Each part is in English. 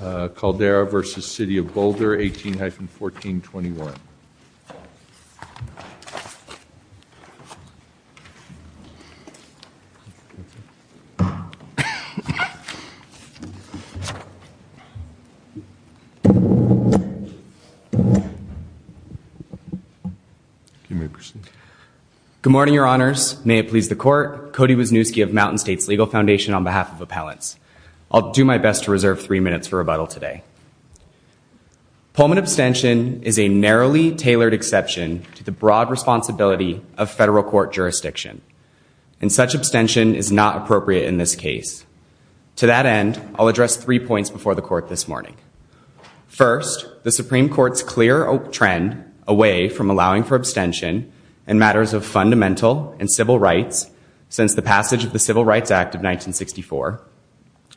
18-14-21 Good morning, Your Honors. May it please the Court. Cody Wisniewski of Mountain States Legal Foundation on behalf of Appellants. I'll do my best to reserve three minutes for rebuttal today. Pullman abstention is a narrowly tailored exception to the broad responsibility of federal court jurisdiction and such abstention is not appropriate in this case. To that end I'll address three points before the Court this morning. First, the Supreme Court's clear trend away from allowing for abstention in matters of fundamental and civil rights since the passage of the Civil Rights Act of 1964.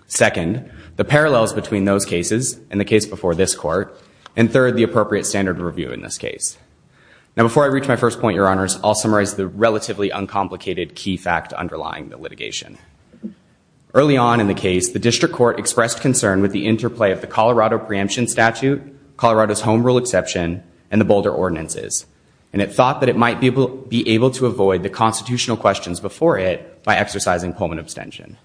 Second, the parallels between those cases and the case before this Court. And third, the appropriate standard review in this case. Now before I reach my first point, Your Honors, I'll summarize the relatively uncomplicated key fact underlying the litigation. Early on in the case the District Court expressed concern with the interplay of the Colorado preemption statute, Colorado's home rule exception, and the Boulder ordinances. And it thought that it might be able to avoid the constitutional questions before it by exercising Pullman abstention.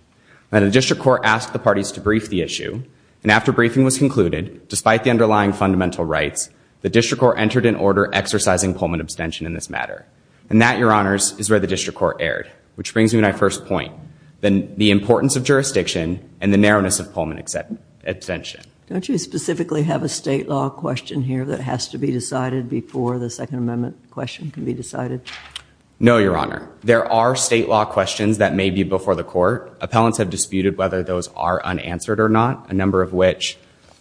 Now the District Court asked the parties to brief the issue and after briefing was concluded, despite the underlying fundamental rights, the District Court entered in order exercising Pullman abstention in this matter. And that, Your Honors, is where the District Court erred. Which brings me to my first point, then the importance of jurisdiction and the narrowness of Pullman abstention. Don't you specifically have a state law question here that has to be decided before the Second Amendment question can be decided? No, Your Honor. There are state law questions that may be before the Court. Appellants have disputed whether those are unanswered or not, a number of which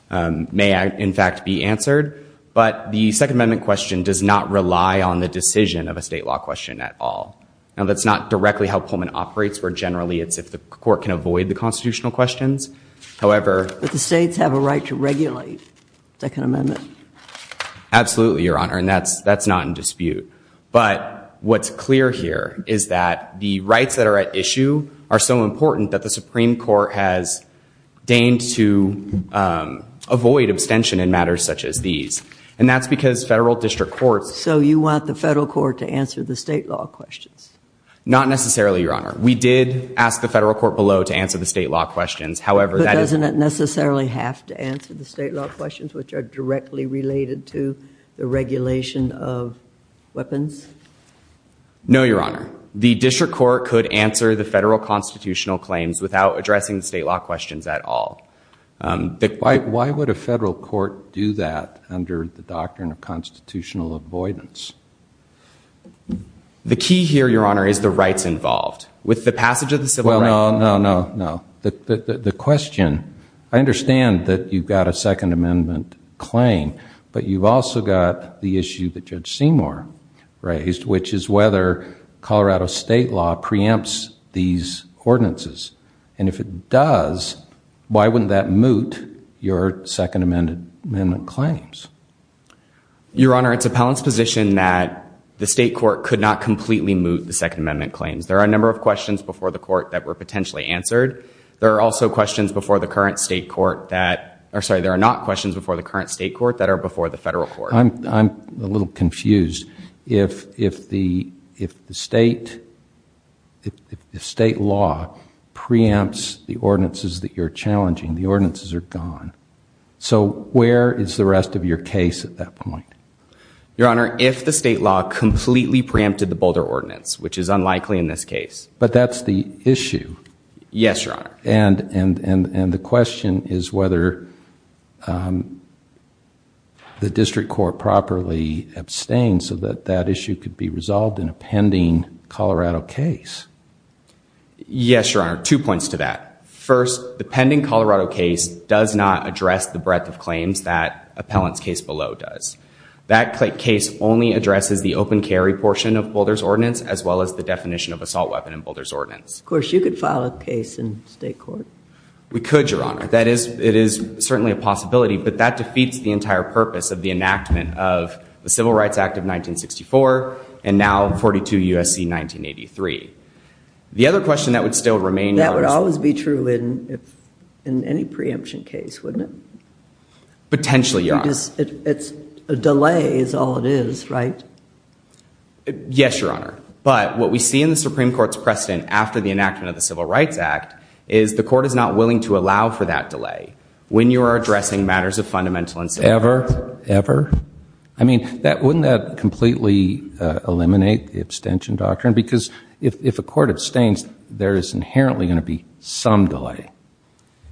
may in fact be answered. But the Second Amendment question does not rely on the decision of a state law question at all. Now that's not directly how Pullman operates, where generally it's if the Court can avoid the constitutional questions. However... But the that's not in dispute. But what's clear here is that the rights that are at issue are so important that the Supreme Court has deigned to avoid abstention in matters such as these. And that's because federal district courts... So you want the federal court to answer the state law questions? Not necessarily, Your Honor. We did ask the federal court below to answer the state law questions, however... But doesn't it necessarily have to answer the state law questions which are directly related to the regulation of weapons? No, Your Honor. The district court could answer the federal constitutional claims without addressing the state law questions at all. Why would a federal court do that under the doctrine of constitutional avoidance? The key here, Your Honor, is the rights involved. With the passage of the Civil Rights Act... Well, no, no, no, no. The question... I understand that you've got a Second Amendment claim, but you've also got the issue that Judge Seymour raised, which is whether Colorado state law preempts these ordinances. And if it does, why wouldn't that moot your Second Amendment claims? Your Honor, it's appellant's position that the state court could not completely moot the Second Amendment claims. There are a number of questions before the court that were potentially answered. There are also questions before the current state court that... Or sorry, there are not questions before the current state court that are before the federal court. I'm a little confused. If the state law preempts the ordinances that you're challenging, the ordinances are gone, so where is the rest of your case at that point? Your Honor, if the state law completely preempted the Boulder Ordinance, which is unlikely in this case. But that's the issue. Yes, Your Honor. The issue is whether the district court properly abstains so that that issue could be resolved in a pending Colorado case. Yes, Your Honor. Two points to that. First, the pending Colorado case does not address the breadth of claims that appellant's case below does. That case only addresses the open carry portion of Boulder's Ordinance, as well as the definition of assault weapon in Boulder's Ordinance. Of course, you could file a case in state court. We could, Your Honor. It is certainly a possibility, but that defeats the entire purpose of the enactment of the Civil Rights Act of 1964, and now 42 U.S.C. 1983. The other question that would still remain... That would always be true in any preemption case, wouldn't it? Potentially, Your Honor. A delay is all it is, right? Yes, Your Honor. But what we see in the Supreme Court's precedent after the enactment of that delay, when you are addressing matters of fundamental... Ever? Ever? I mean, wouldn't that completely eliminate the abstention doctrine? Because if a court abstains, there is inherently going to be some delay.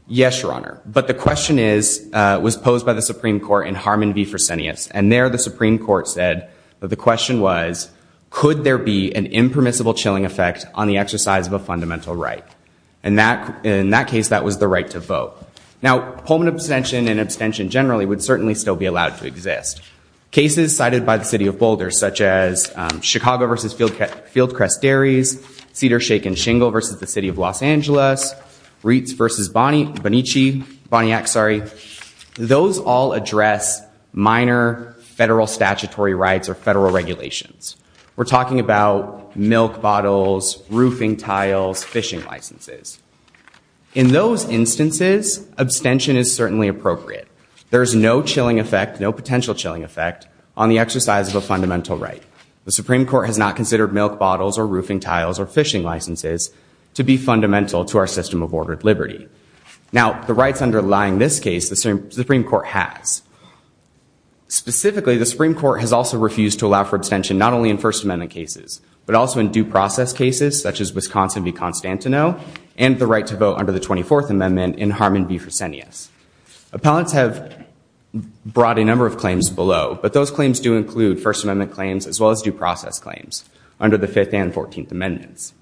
Yes, Your Honor. But the question was posed by the Supreme Court in Harmon v. Fresenius, and there the Supreme Court said that the question was, could there be an impermissible chilling effect on the exercise of a fundamental right? And in that case, that was the right to vote. Now, Pullman abstention and abstention generally would certainly still be allowed to exist. Cases cited by the City of Boulder, such as Chicago v. Fieldcrest Dairies, Cedars-Shake and Shingle v. the City of Los Angeles, Reitz v. Bonnyack, those all address minor federal statutory rights or federal regulations. We're those instances, abstention is certainly appropriate. There's no chilling effect, no potential chilling effect, on the exercise of a fundamental right. The Supreme Court has not considered milk bottles or roofing tiles or fishing licenses to be fundamental to our system of ordered liberty. Now, the rights underlying this case, the Supreme Court has. Specifically, the Supreme Court has also refused to allow for abstention, not only in First Amendment cases, but also in due process cases, such as Wisconsin v. Constantinople, and the right to vote under the 24th Amendment in Harmon v. Fresenius. Appellants have brought a number of claims below, but those claims do include First Amendment claims, as well as due process claims under the 5th and 14th Amendments.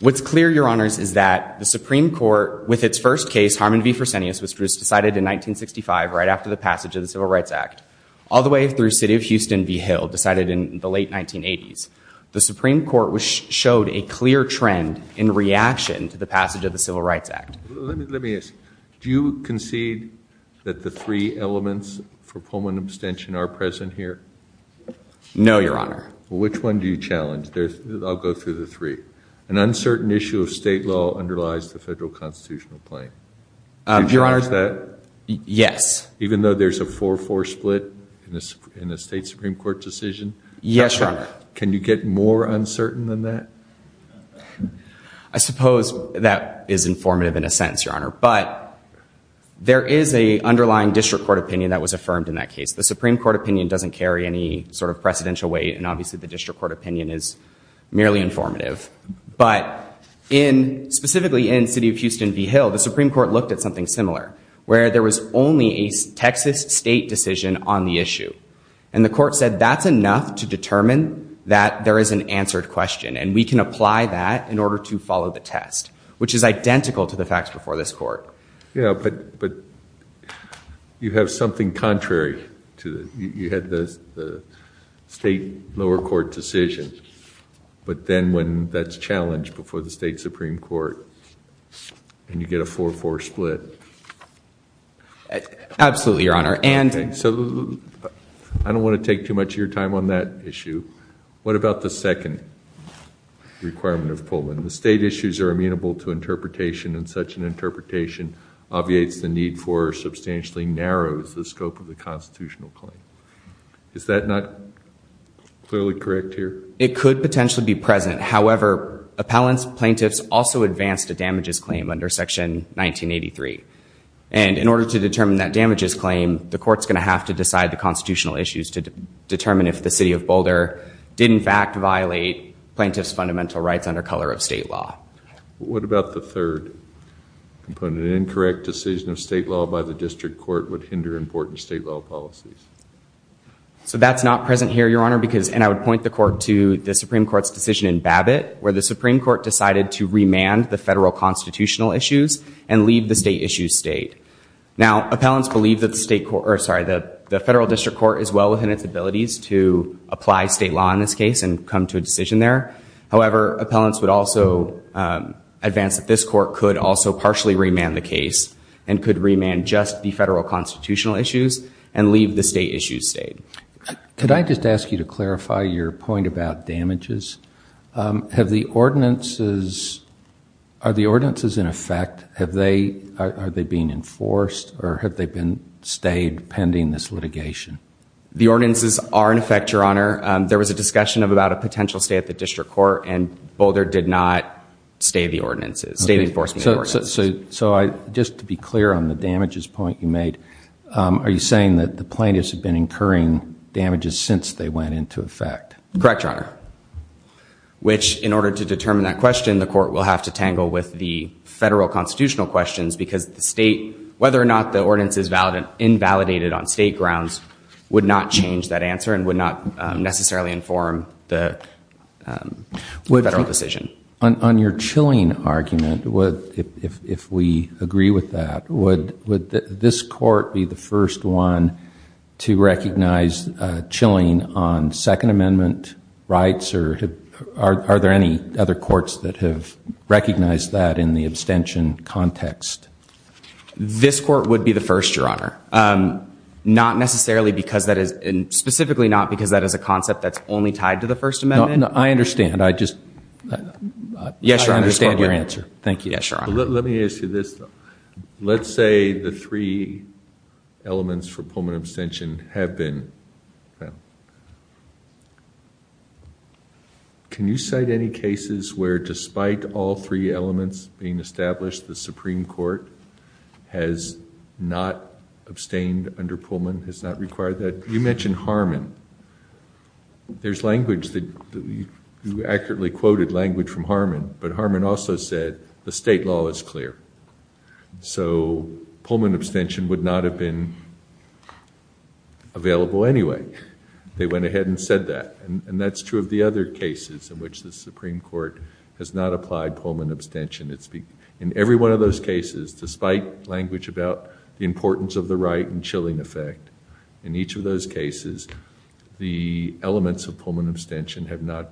What's clear, Your Honors, is that the Supreme Court, with its first case, Harmon v. Fresenius, was decided in 1965, right after the passage of the Civil Rights Act, all the way through City of Houston v. Hill, decided in the late 1980s. The Supreme Court showed a clear trend in reaction to the passage of the Civil Rights Act. Let me ask, do you concede that the three elements for Pullman abstention are present here? No, Your Honor. Which one do you challenge? I'll go through the three. An uncertain issue of state law underlies the federal constitutional claim. Do you challenge that? Yes. Even though there's a 4-4 split in the state Supreme Court decision? Yes, Your Honor. Can you get more uncertain than that? I suppose that is informative in a sense, Your Honor, but there is a underlying district court opinion that was affirmed in that case. The Supreme Court opinion doesn't carry any sort of precedential weight, and obviously the district court opinion is merely informative. But in, specifically in City of Houston v. Hill, the Supreme Court looked at something similar, where there was only a Texas state decision on the issue. And the court said that's enough to determine that there is an answered question, and we can apply that in order to follow the test, which is identical to the facts before this court. Yeah, but you have something contrary to it. You had the state lower court decision, but then when that's challenged before the state Supreme Court, and you get a 4-4 split. Absolutely, Your Honor. And so I don't want to take too much of your time on that issue. What about the second requirement of Pullman? The state issues are amenable to interpretation, and such an interpretation obviates the need for substantially narrows the scope of the constitutional claim. Is that not clearly correct here? It could potentially be present. However, appellants, plaintiffs also advanced a damages claim under Section 1983. And in order to determine that damages claim, the court's going to have to decide the constitutional issues to determine if the City of Boulder did in fact violate plaintiffs fundamental rights under color of state law. What about the third component? An incorrect decision of state law by the district court would hinder important state law policies. So that's not present here, Your Honor, because, and I would point the court to the Supreme Court's decision in Babbitt, where the Supreme Court decided to remand the federal constitutional issues and leave the state issues state. Now, appellants believe that the state court, or sorry, that the federal district court is well within its abilities to apply state law in this case and come to a decision there. However, appellants would also advance that this court could also partially remand the case and could remand just the federal constitutional issues and leave the state issues state. Could I just ask you to clarify your damages? Have the ordinances, are the ordinances in effect? Have they, are they being enforced or have they been stayed pending this litigation? The ordinances are in effect, Your Honor. There was a discussion about a potential stay at the district court and Boulder did not stay the ordinances, stay the enforcement ordinances. So I, just to be clear on the damages point you made, are you saying that the plaintiffs have been incurring damages since they went into effect? Correct, Your Honor. Which, in order to determine that question, the court will have to tangle with the federal constitutional questions because the state, whether or not the ordinance is valid and invalidated on state grounds, would not change that answer and would not necessarily inform the federal decision. On your Chilling argument, if we agree with that, would this court be the first, Your Honor? Not necessarily because that is, and specifically not because that is a concept that's only tied to the First Amendment? No, no, I understand. I just, I understand your answer. Thank you. Yes, Your Honor. Let me ask you this. Let's say the three elements for pullman abstention have been found. Can you cite any cases where, despite all three elements being established, the Supreme Court has not abstained under Pullman, has not required that? You mentioned Harmon. There's language that, you accurately quoted language from Harmon, but Harmon also said the state law is clear. So Pullman abstention would not have been available anyway. They went ahead and said that and that's true of the other cases in which the Supreme Court has not applied Pullman abstention. In every one of those cases, despite language about the importance of the right and Chilling effect, in each of those cases the elements of Pullman abstention have not,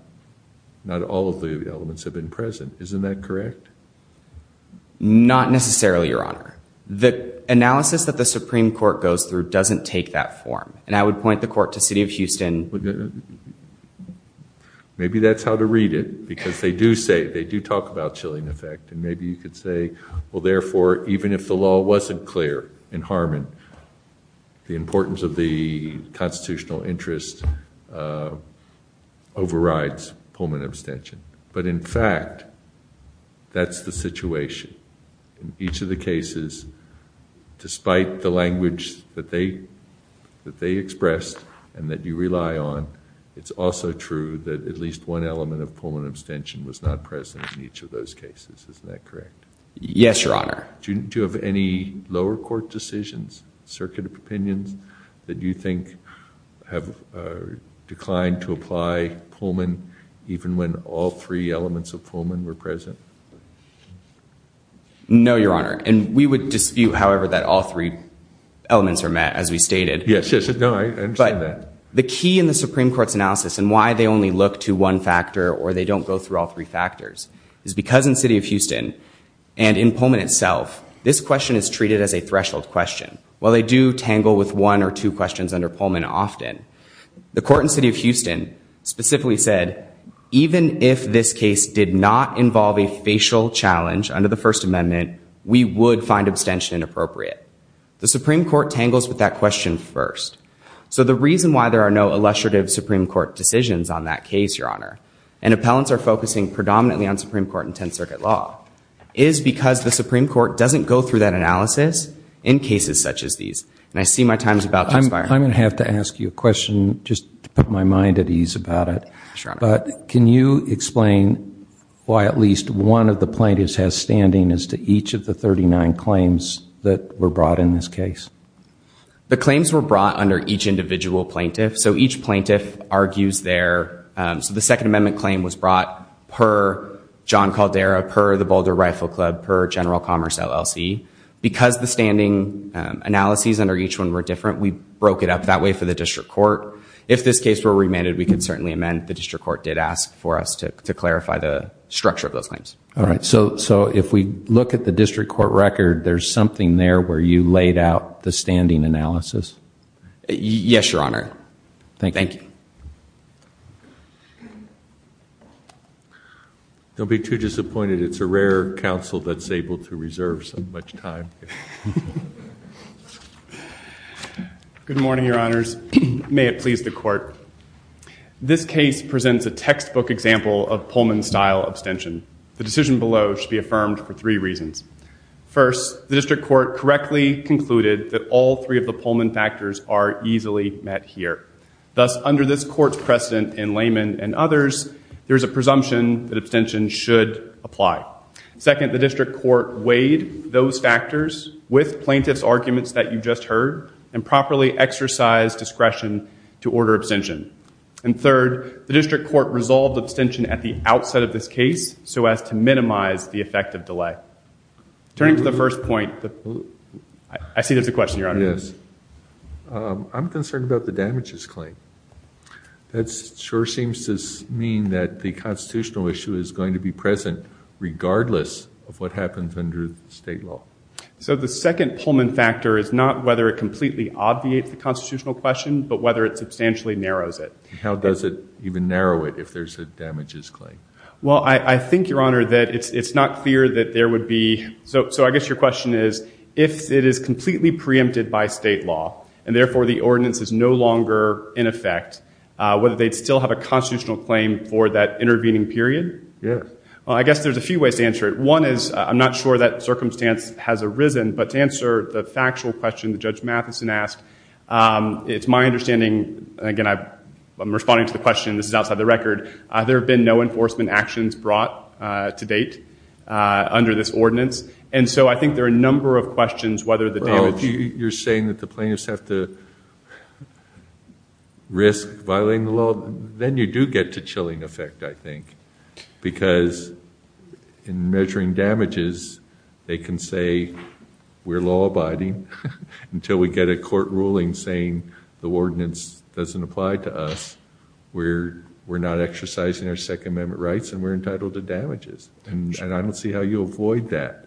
not all of the elements have been present. Isn't that correct? Not necessarily, Your Honor. The analysis that the Supreme Court goes through doesn't take that form and I would point the court to City of Houston. Maybe that's how to read it because they do say, they do talk about Chilling effect and maybe you could say, well therefore, even if the law wasn't clear in Harmon, the importance of the constitutional interest overrides Pullman abstention. But in fact, that's the situation. In each of the cases, despite the language that they expressed and that you rely on, it's also true that at least one element of Pullman abstention was not present in each of those cases. Isn't that correct? Yes, Your Honor. Do you have any lower court decisions, circuit of opinions, that you think have declined to apply Pullman even when all three elements of Pullman were present? No, Your Honor, and we would dispute, however, that all three elements are met, as we stated. Yes, no, I understand that. But the key in the Supreme Court's analysis and why they only look to one factor or they don't go through all three factors is because in City of Houston and in Pullman itself, this question is treated as a threshold question. While they do tangle with one or two questions under Pullman often, the court in City of Houston specifically said, even if this case did not involve a defined abstention, inappropriate. The Supreme Court tangles with that question first. So the reason why there are no illustrative Supreme Court decisions on that case, Your Honor, and appellants are focusing predominantly on Supreme Court and Tenth Circuit law, is because the Supreme Court doesn't go through that analysis in cases such as these. And I see my time is about to expire. I'm gonna have to ask you a question, just to put my mind at ease about it, but can you explain why at least one of the plaintiffs has standing as to each of the 39 claims that were brought in this case? The claims were brought under each individual plaintiff. So each plaintiff argues their, so the Second Amendment claim was brought per John Caldera, per the Boulder Rifle Club, per General Commerce LLC. Because the standing analyses under each one were different, we broke it up that way for the District Court. If this case were remanded, we could certainly amend. The District Court did ask for us to clarify the structure of claims. All right, so if we look at the District Court record, there's something there where you laid out the standing analysis? Yes, Your Honor. Thank you. Don't be too disappointed, it's a rare counsel that's able to reserve so much time. Good morning, Your Honors. May it please the Court. This case presents a The decision below should be affirmed for three reasons. First, the District Court correctly concluded that all three of the Pullman factors are easily met here. Thus, under this Court's precedent in Layman and others, there is a presumption that abstention should apply. Second, the District Court weighed those factors with plaintiffs' arguments that you just heard and properly exercised discretion to order abstention. And third, the District Court resolved abstention at the outset of this case so as to minimize the effect of delay. Turning to the first point, I see there's a question, Your Honor. Yes, I'm concerned about the damages claim. That sure seems to mean that the constitutional issue is going to be present regardless of what happens under state law. So the second Pullman factor is not whether it completely obviates the constitutional question, but whether it substantially narrows it. How does it even narrow it if there's a delay? Well, I think, Your Honor, that it's not clear that there would be. So I guess your question is, if it is completely preempted by state law and therefore the ordinance is no longer in effect, whether they'd still have a constitutional claim for that intervening period? Yes. Well, I guess there's a few ways to answer it. One is, I'm not sure that circumstance has arisen, but to answer the factual question that Judge Matheson asked, it's my understanding, again, I'm responding to the question, this is outside the record, there have been no enforcement actions brought to date under this ordinance. And so I think there are a number of questions whether the damage... You're saying that the plaintiffs have to risk violating the law? Then you do get to chilling effect, I think. Because in measuring damages, they can say we're law-abiding until we get a court ruling saying the ordinance doesn't apply to us. We're not exercising our Second Amendment rights and we're entitled to damages. And I don't see how you avoid that.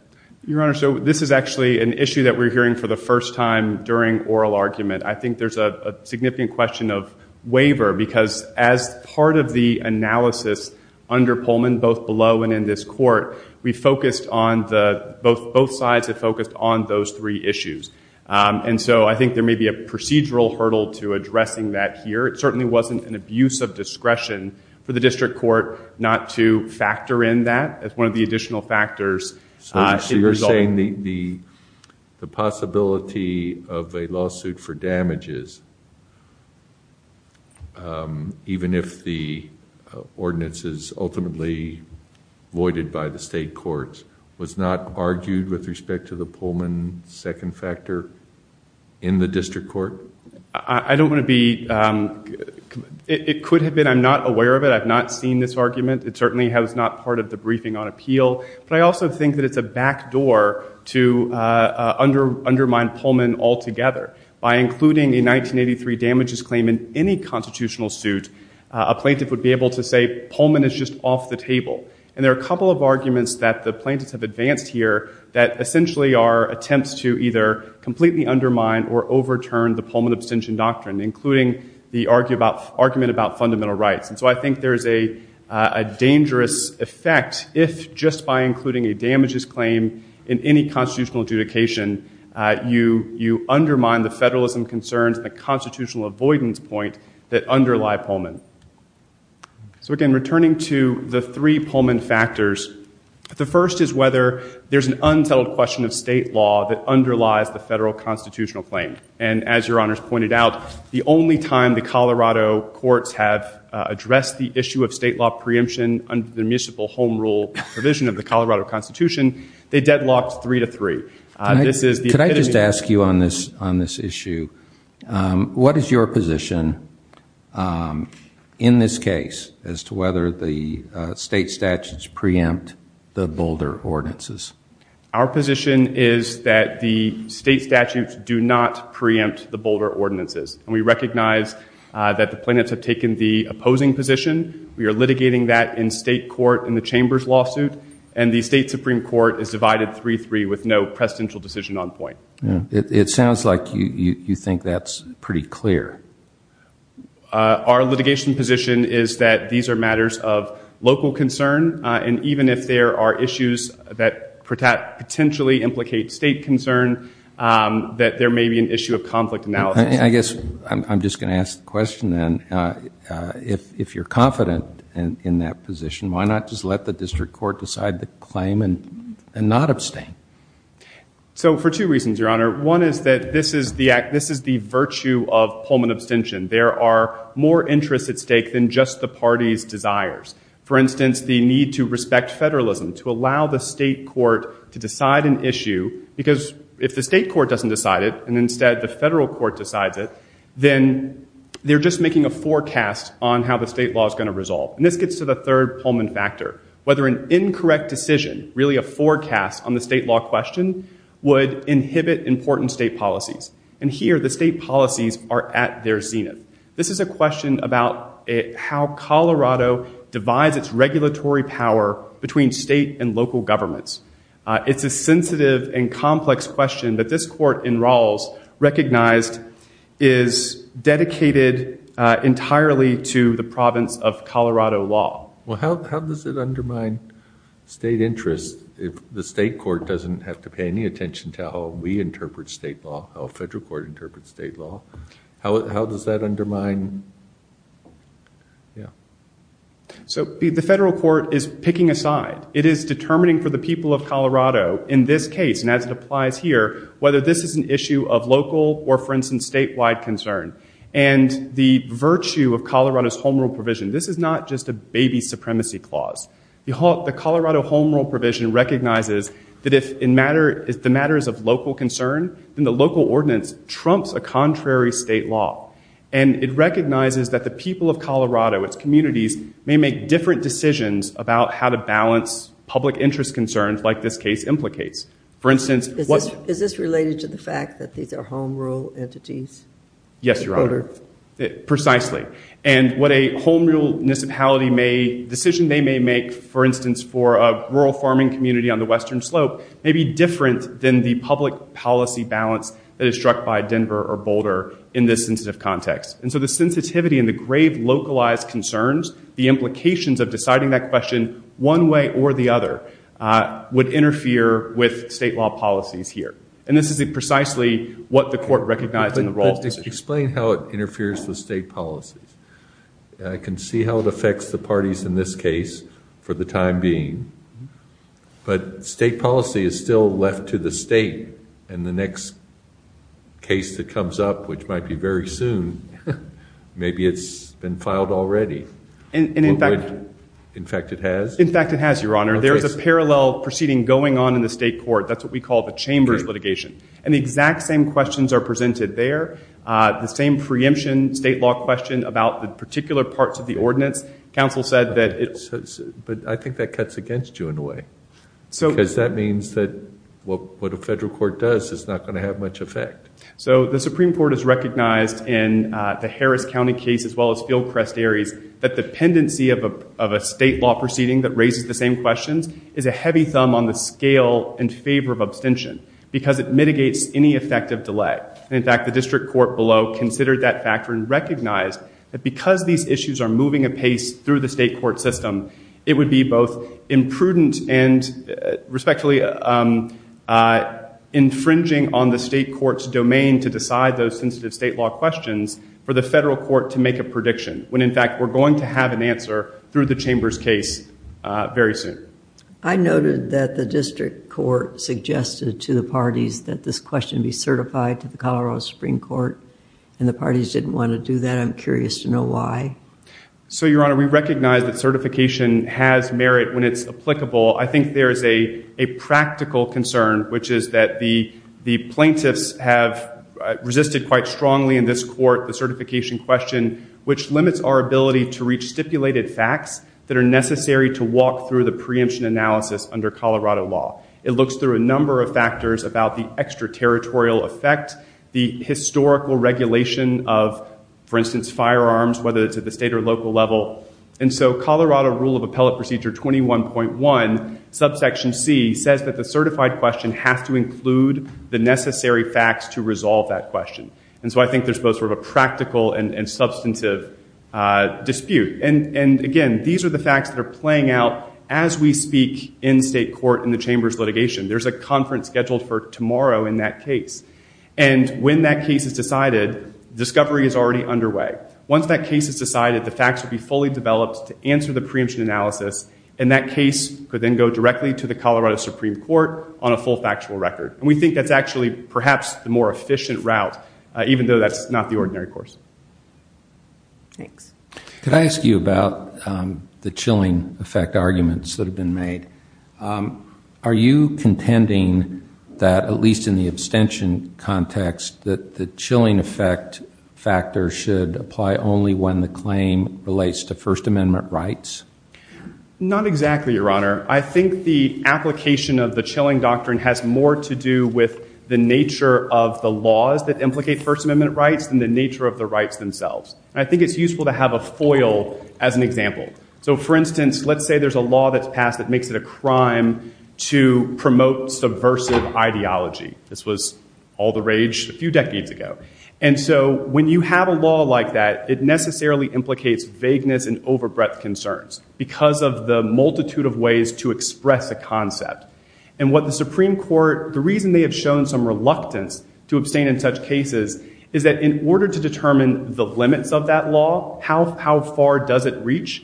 Your Honor, so this is actually an issue that we're hearing for the first time during oral argument. I think there's a significant question of waiver, because as part of the analysis under Pullman, both below and in this court, we focused on the... Both sides have focused on those three issues. And so I think there may be a procedural hurdle to addressing that here. It certainly wasn't an abuse of discretion for the district court not to factor in that as one of the additional factors. So you're saying the possibility of a lawsuit for damages, even if the ordinance is ultimately voided by the state courts, was not argued with respect to the Pullman second factor in the district court? I don't want to be... It could have been. I'm not aware of it. I've not seen this argument. It certainly was not part of the briefing on appeal. But I also think that it's a backdoor to undermine Pullman altogether. By including a 1983 damages claim in any constitutional suit, a plaintiff would be able to say Pullman is just off the table. And there are a couple of arguments that the plaintiffs have advanced here that essentially are attempts to either completely undermine or overturn the Pullman abstention doctrine, including the argument about fundamental rights. And so I think there's a dangerous effect if, just by including a damages claim in any constitutional adjudication, you undermine the federalism concerns, the constitutional avoidance point that underlie Pullman. So again, returning to the three Pullman factors, the first is whether there's an unsettled question of state law that underlies the federal constitutional claim. And as your honors pointed out, the only time the Colorado courts have addressed the issue of state law preemption under the municipal home rule provision of the Colorado Constitution, they deadlocked three to three. Could I just ask you on this issue, what is your position in this case as to whether the state statutes preempt the Boulder ordinances? Our position is that the state statutes do not preempt the Boulder ordinances. And we recognize that the plaintiffs have taken the opposing position. We are litigating that in state court in the chamber's lawsuit, and the state supreme court is divided three-three with no presidential decision on point. It sounds like you think that's pretty clear. Our litigation position is that these are matters of local concern, and even if there are issues that potentially implicate state concern, that there may be an issue of conflict analysis. I guess I'm just going to ask the question then. If you're confident in that position, why not just let the district court decide the claim and not abstain? So for two reasons, your honor. One is that this is the virtue of Pullman abstention. There are more interests at stake than just the party's desires. For instance, the need to respect federalism, to allow the state court to decide an issue, because if the state court doesn't decide it and instead the federal court decides it, then they're just making a forecast on how the state law is going to resolve. And this gets to the third Pullman factor, whether an incorrect decision, really a forecast on the state law question, would inhibit important state policies. And here the state policies are at their zenith. This is a question about how Colorado divides its regulatory power between state and local governments. It's a sensitive and complex question that this court in Rawls recognized is dedicated entirely to the province of Colorado law. Well how does it undermine state interest if the state court doesn't have to pay any attention to how we interpret state law, how a federal court interprets state law? How does that undermine? So the federal court is picking a side. It is determining for the people of Colorado in this case, and as it applies here, whether this is an issue of local or for instance statewide concern. And the virtue of Colorado's Home Rule provision, this is not just a baby supremacy clause. The Colorado Home Rule provision recognizes that if the matter is of local concern, then the local ordinance trumps a contrary state law. And it recognizes that the people of Colorado, its communities, may make different decisions about how to balance public interest concerns like this case implicates. For instance, what's... Is this related to the fact that these are Home Rule entities? Yes, Your Honor. Precisely. And what a Home Rule municipality may, decision they may make, for instance, for a rural farming community on the Western Slope, may be different than the public policy balance that is struck by Denver or Boulder in this instance of context. And so the sensitivity and the grave localized concerns, the implications of deciding that question one way or the other, would interfere with state law policies here. And this is precisely what the court recognized in the role. Explain how it interferes with state policies. I can see how it affects the parties in this case for the time being, but state policy is still left to the state. And the next case that comes up, which might be very soon, maybe it's been filed already. And in fact... In fact it has? In fact it has, Your Honor. There is a parallel proceeding going on in the state court. That's what we call the chambers litigation. And the exact same questions are presented there. The same preemption state law question about the particular parts of the ordinance, counsel said that it... But I think that cuts against you in a way. Because that means that what a federal court does is not going to have much effect. So the Supreme Court has recognized in the Harris County case, as well as Fieldcrest-Aries, that the pendency of a state law proceeding that raises the same questions is a heavy thumb on the scale in favor of abstention. Because it mitigates any effective delay. And in fact the district court below considered that factor and recognized that because these issues are and respectfully infringing on the state court's domain to decide those sensitive state law questions for the federal court to make a prediction. When in fact we're going to have an answer through the chambers case very soon. I noted that the district court suggested to the parties that this question be certified to the Colorado Supreme Court. And the parties didn't want to do that. I'm curious to know why. So Your Honor, we recognize that certification has merit when it's applicable. I think there is a practical concern which is that the plaintiffs have resisted quite strongly in this court the certification question which limits our ability to reach stipulated facts that are necessary to walk through the preemption analysis under Colorado law. It looks through a number of factors about the extraterritorial effect, the historical regulation of, for instance, firearms, whether it's at the state or local level. And so Colorado Rule of Appellate Procedure 21.1 subsection C says that the certified question has to include the necessary facts to resolve that question. And so I think there's both sort of a practical and substantive dispute. And again these are the facts that are playing out as we speak in state court in the chambers litigation. There's a conference scheduled for tomorrow in that case. And when that case is decided, discovery is already underway. Once that case is decided, the facts will be fully developed to answer the preemption analysis and that case could then go directly to the Colorado Supreme Court on a full factual record. And we think that's actually perhaps the more efficient route, even though that's not the ordinary course. Thanks. Could I ask you about the chilling effect arguments that have been made? Are you contending that, at least in the abstention context, that the chilling effect factor should apply only when the claim relates to First Amendment rights? Not exactly, Your Honor. I think the application of the chilling doctrine has more to do with the nature of the laws that implicate First Amendment rights than the nature of the rights themselves. I think it's useful to have a foil as an example. So for instance, let's say there's a law that's passed that makes it a crime to promote subversive ideology. This was all the rage a few years ago. And so when you have a law like that, it necessarily implicates vagueness and overbreadth concerns because of the multitude of ways to express a concept. And what the Supreme Court, the reason they have shown some reluctance to abstain in such cases, is that in order to determine the limits of that law, how far does it reach,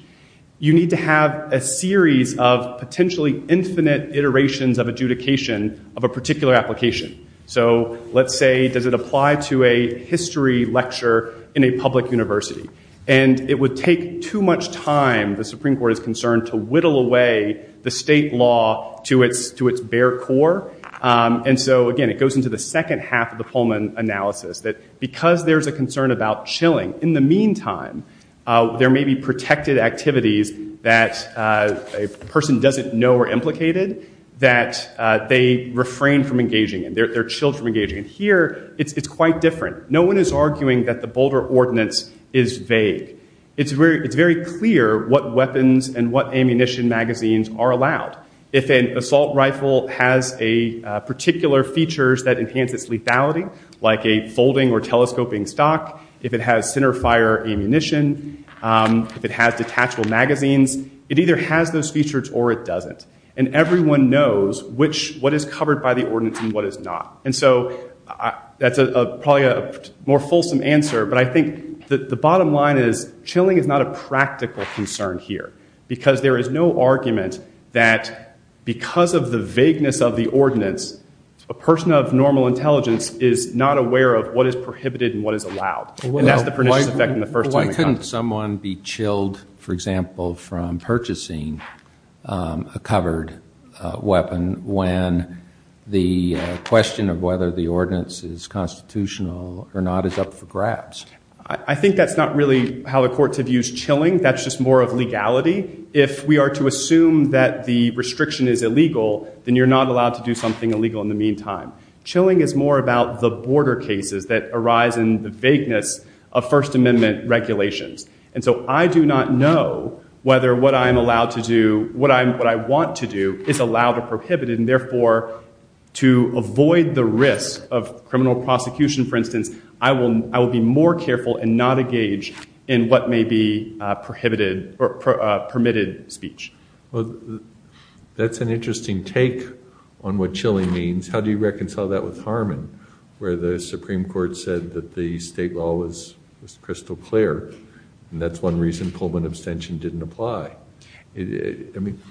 you need to have a series of potentially infinite iterations of adjudication of a particular application. So let's say, does it apply to a history lecture in a public university? And it would take too much time, the Supreme Court is concerned, to whittle away the state law to its bare core. And so again, it goes into the second half of the Pullman analysis, that because there's a concern about chilling, in the meantime, there may be protected activities that a person doesn't know are implicated, that they refrain from engaging in, they're chilled from engaging. And here, it's quite different. No one is arguing that the Boulder Ordinance is vague. It's very clear what weapons and what ammunition magazines are allowed. If an assault rifle has particular features that enhance its lethality, like a folding or telescoping stock, if it has centerfire ammunition, if it has detachable magazines, it either has those features or it doesn't. And everyone knows what is covered by the ordinance and what is not. And so, that's probably a more fulsome answer, but I think that the bottom line is, chilling is not a practical concern here, because there is no argument that because of the vagueness of the ordinance, a person of normal intelligence is not aware of what is prohibited and what is allowed. And that's the pernicious effect in the first time it comes to mind. Why couldn't someone be chilled, for example, from purchasing a covered weapon when the question of whether the ordinance is constitutional or not is up for grabs? I think that's not really how the courts have used chilling. That's just more of legality. If we are to assume that the restriction is illegal, then you're not allowed to do something illegal in the meantime. Chilling is more about the border cases that arise in the vagueness of First Amendment regulations. And so, I do not know whether what I'm allowed to do, what I want to do, is allow to be prohibited. And therefore, to avoid the risk of criminal prosecution, for instance, I will be more careful and not engage in what may be permitted speech. Well, that's an interesting take on what chilling means. How do you reconcile that with Harmon, where the Supreme Court said that the state law was crystal clear, and that's one reason Pullman abstention didn't apply? I mean,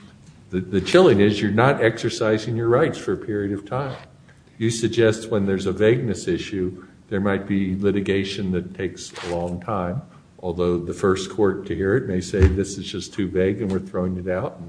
the chilling is you're not exercising your rights for a period of time. You suggest when there's a vagueness issue, there might be litigation that takes a long time, although the first court to hear it may say this is just too vague and we're throwing it out.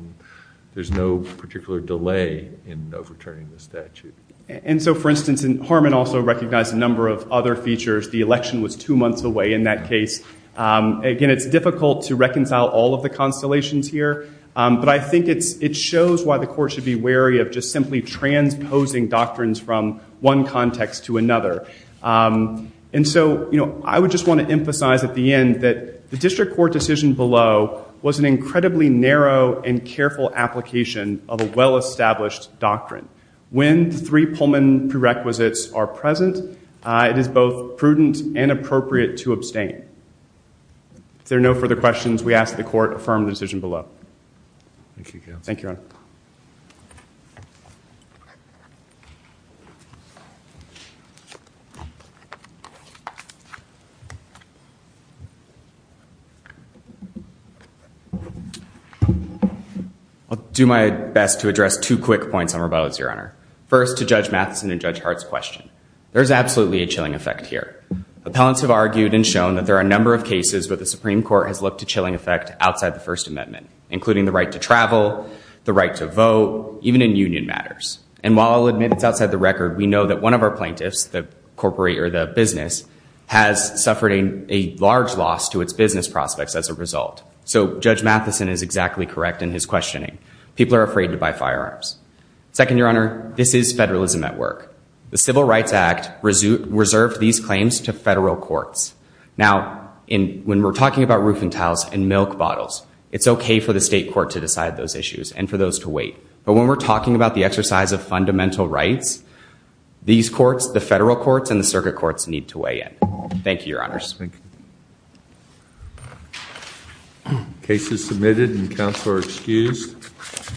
There's no particular delay in overturning the statute. And so, for instance, Harmon also recognized a number of other features. The election was two months away in that case. Again, it's difficult to reconcile all of the constellations here, but I think it shows why the court should be wary of just simply transposing doctrines from one context to another. And so, I would just want to emphasize at the end that the district court decision below was an incredibly narrow and careful application of a well-established doctrine. When the three Pullman prerequisites are present, it is both prudent and appropriate to abstain. If there are no further questions, we ask the court to affirm the decision below. Thank you, Your Honor. I'll do my best to address two quick points on rebuttals, Your Honor. First, to Judge Matheson and Judge Hart's question. There's absolutely a chilling effect here. Appellants have argued and shown that there are a number of cases where the Supreme Court has looked to chilling effect outside the First Amendment, including the right to travel, the right to vote, even in union matters. And while I'll admit it's outside the record, we know that one of our plaintiffs, the corporate or the business, has suffered a large loss to its business prospects as a result. So, Judge Matheson is exactly correct in his questioning. People are afraid to buy firearms. Second, Your Honor, this is federalism at work. The Civil Cases are submitted and the counsel are excused.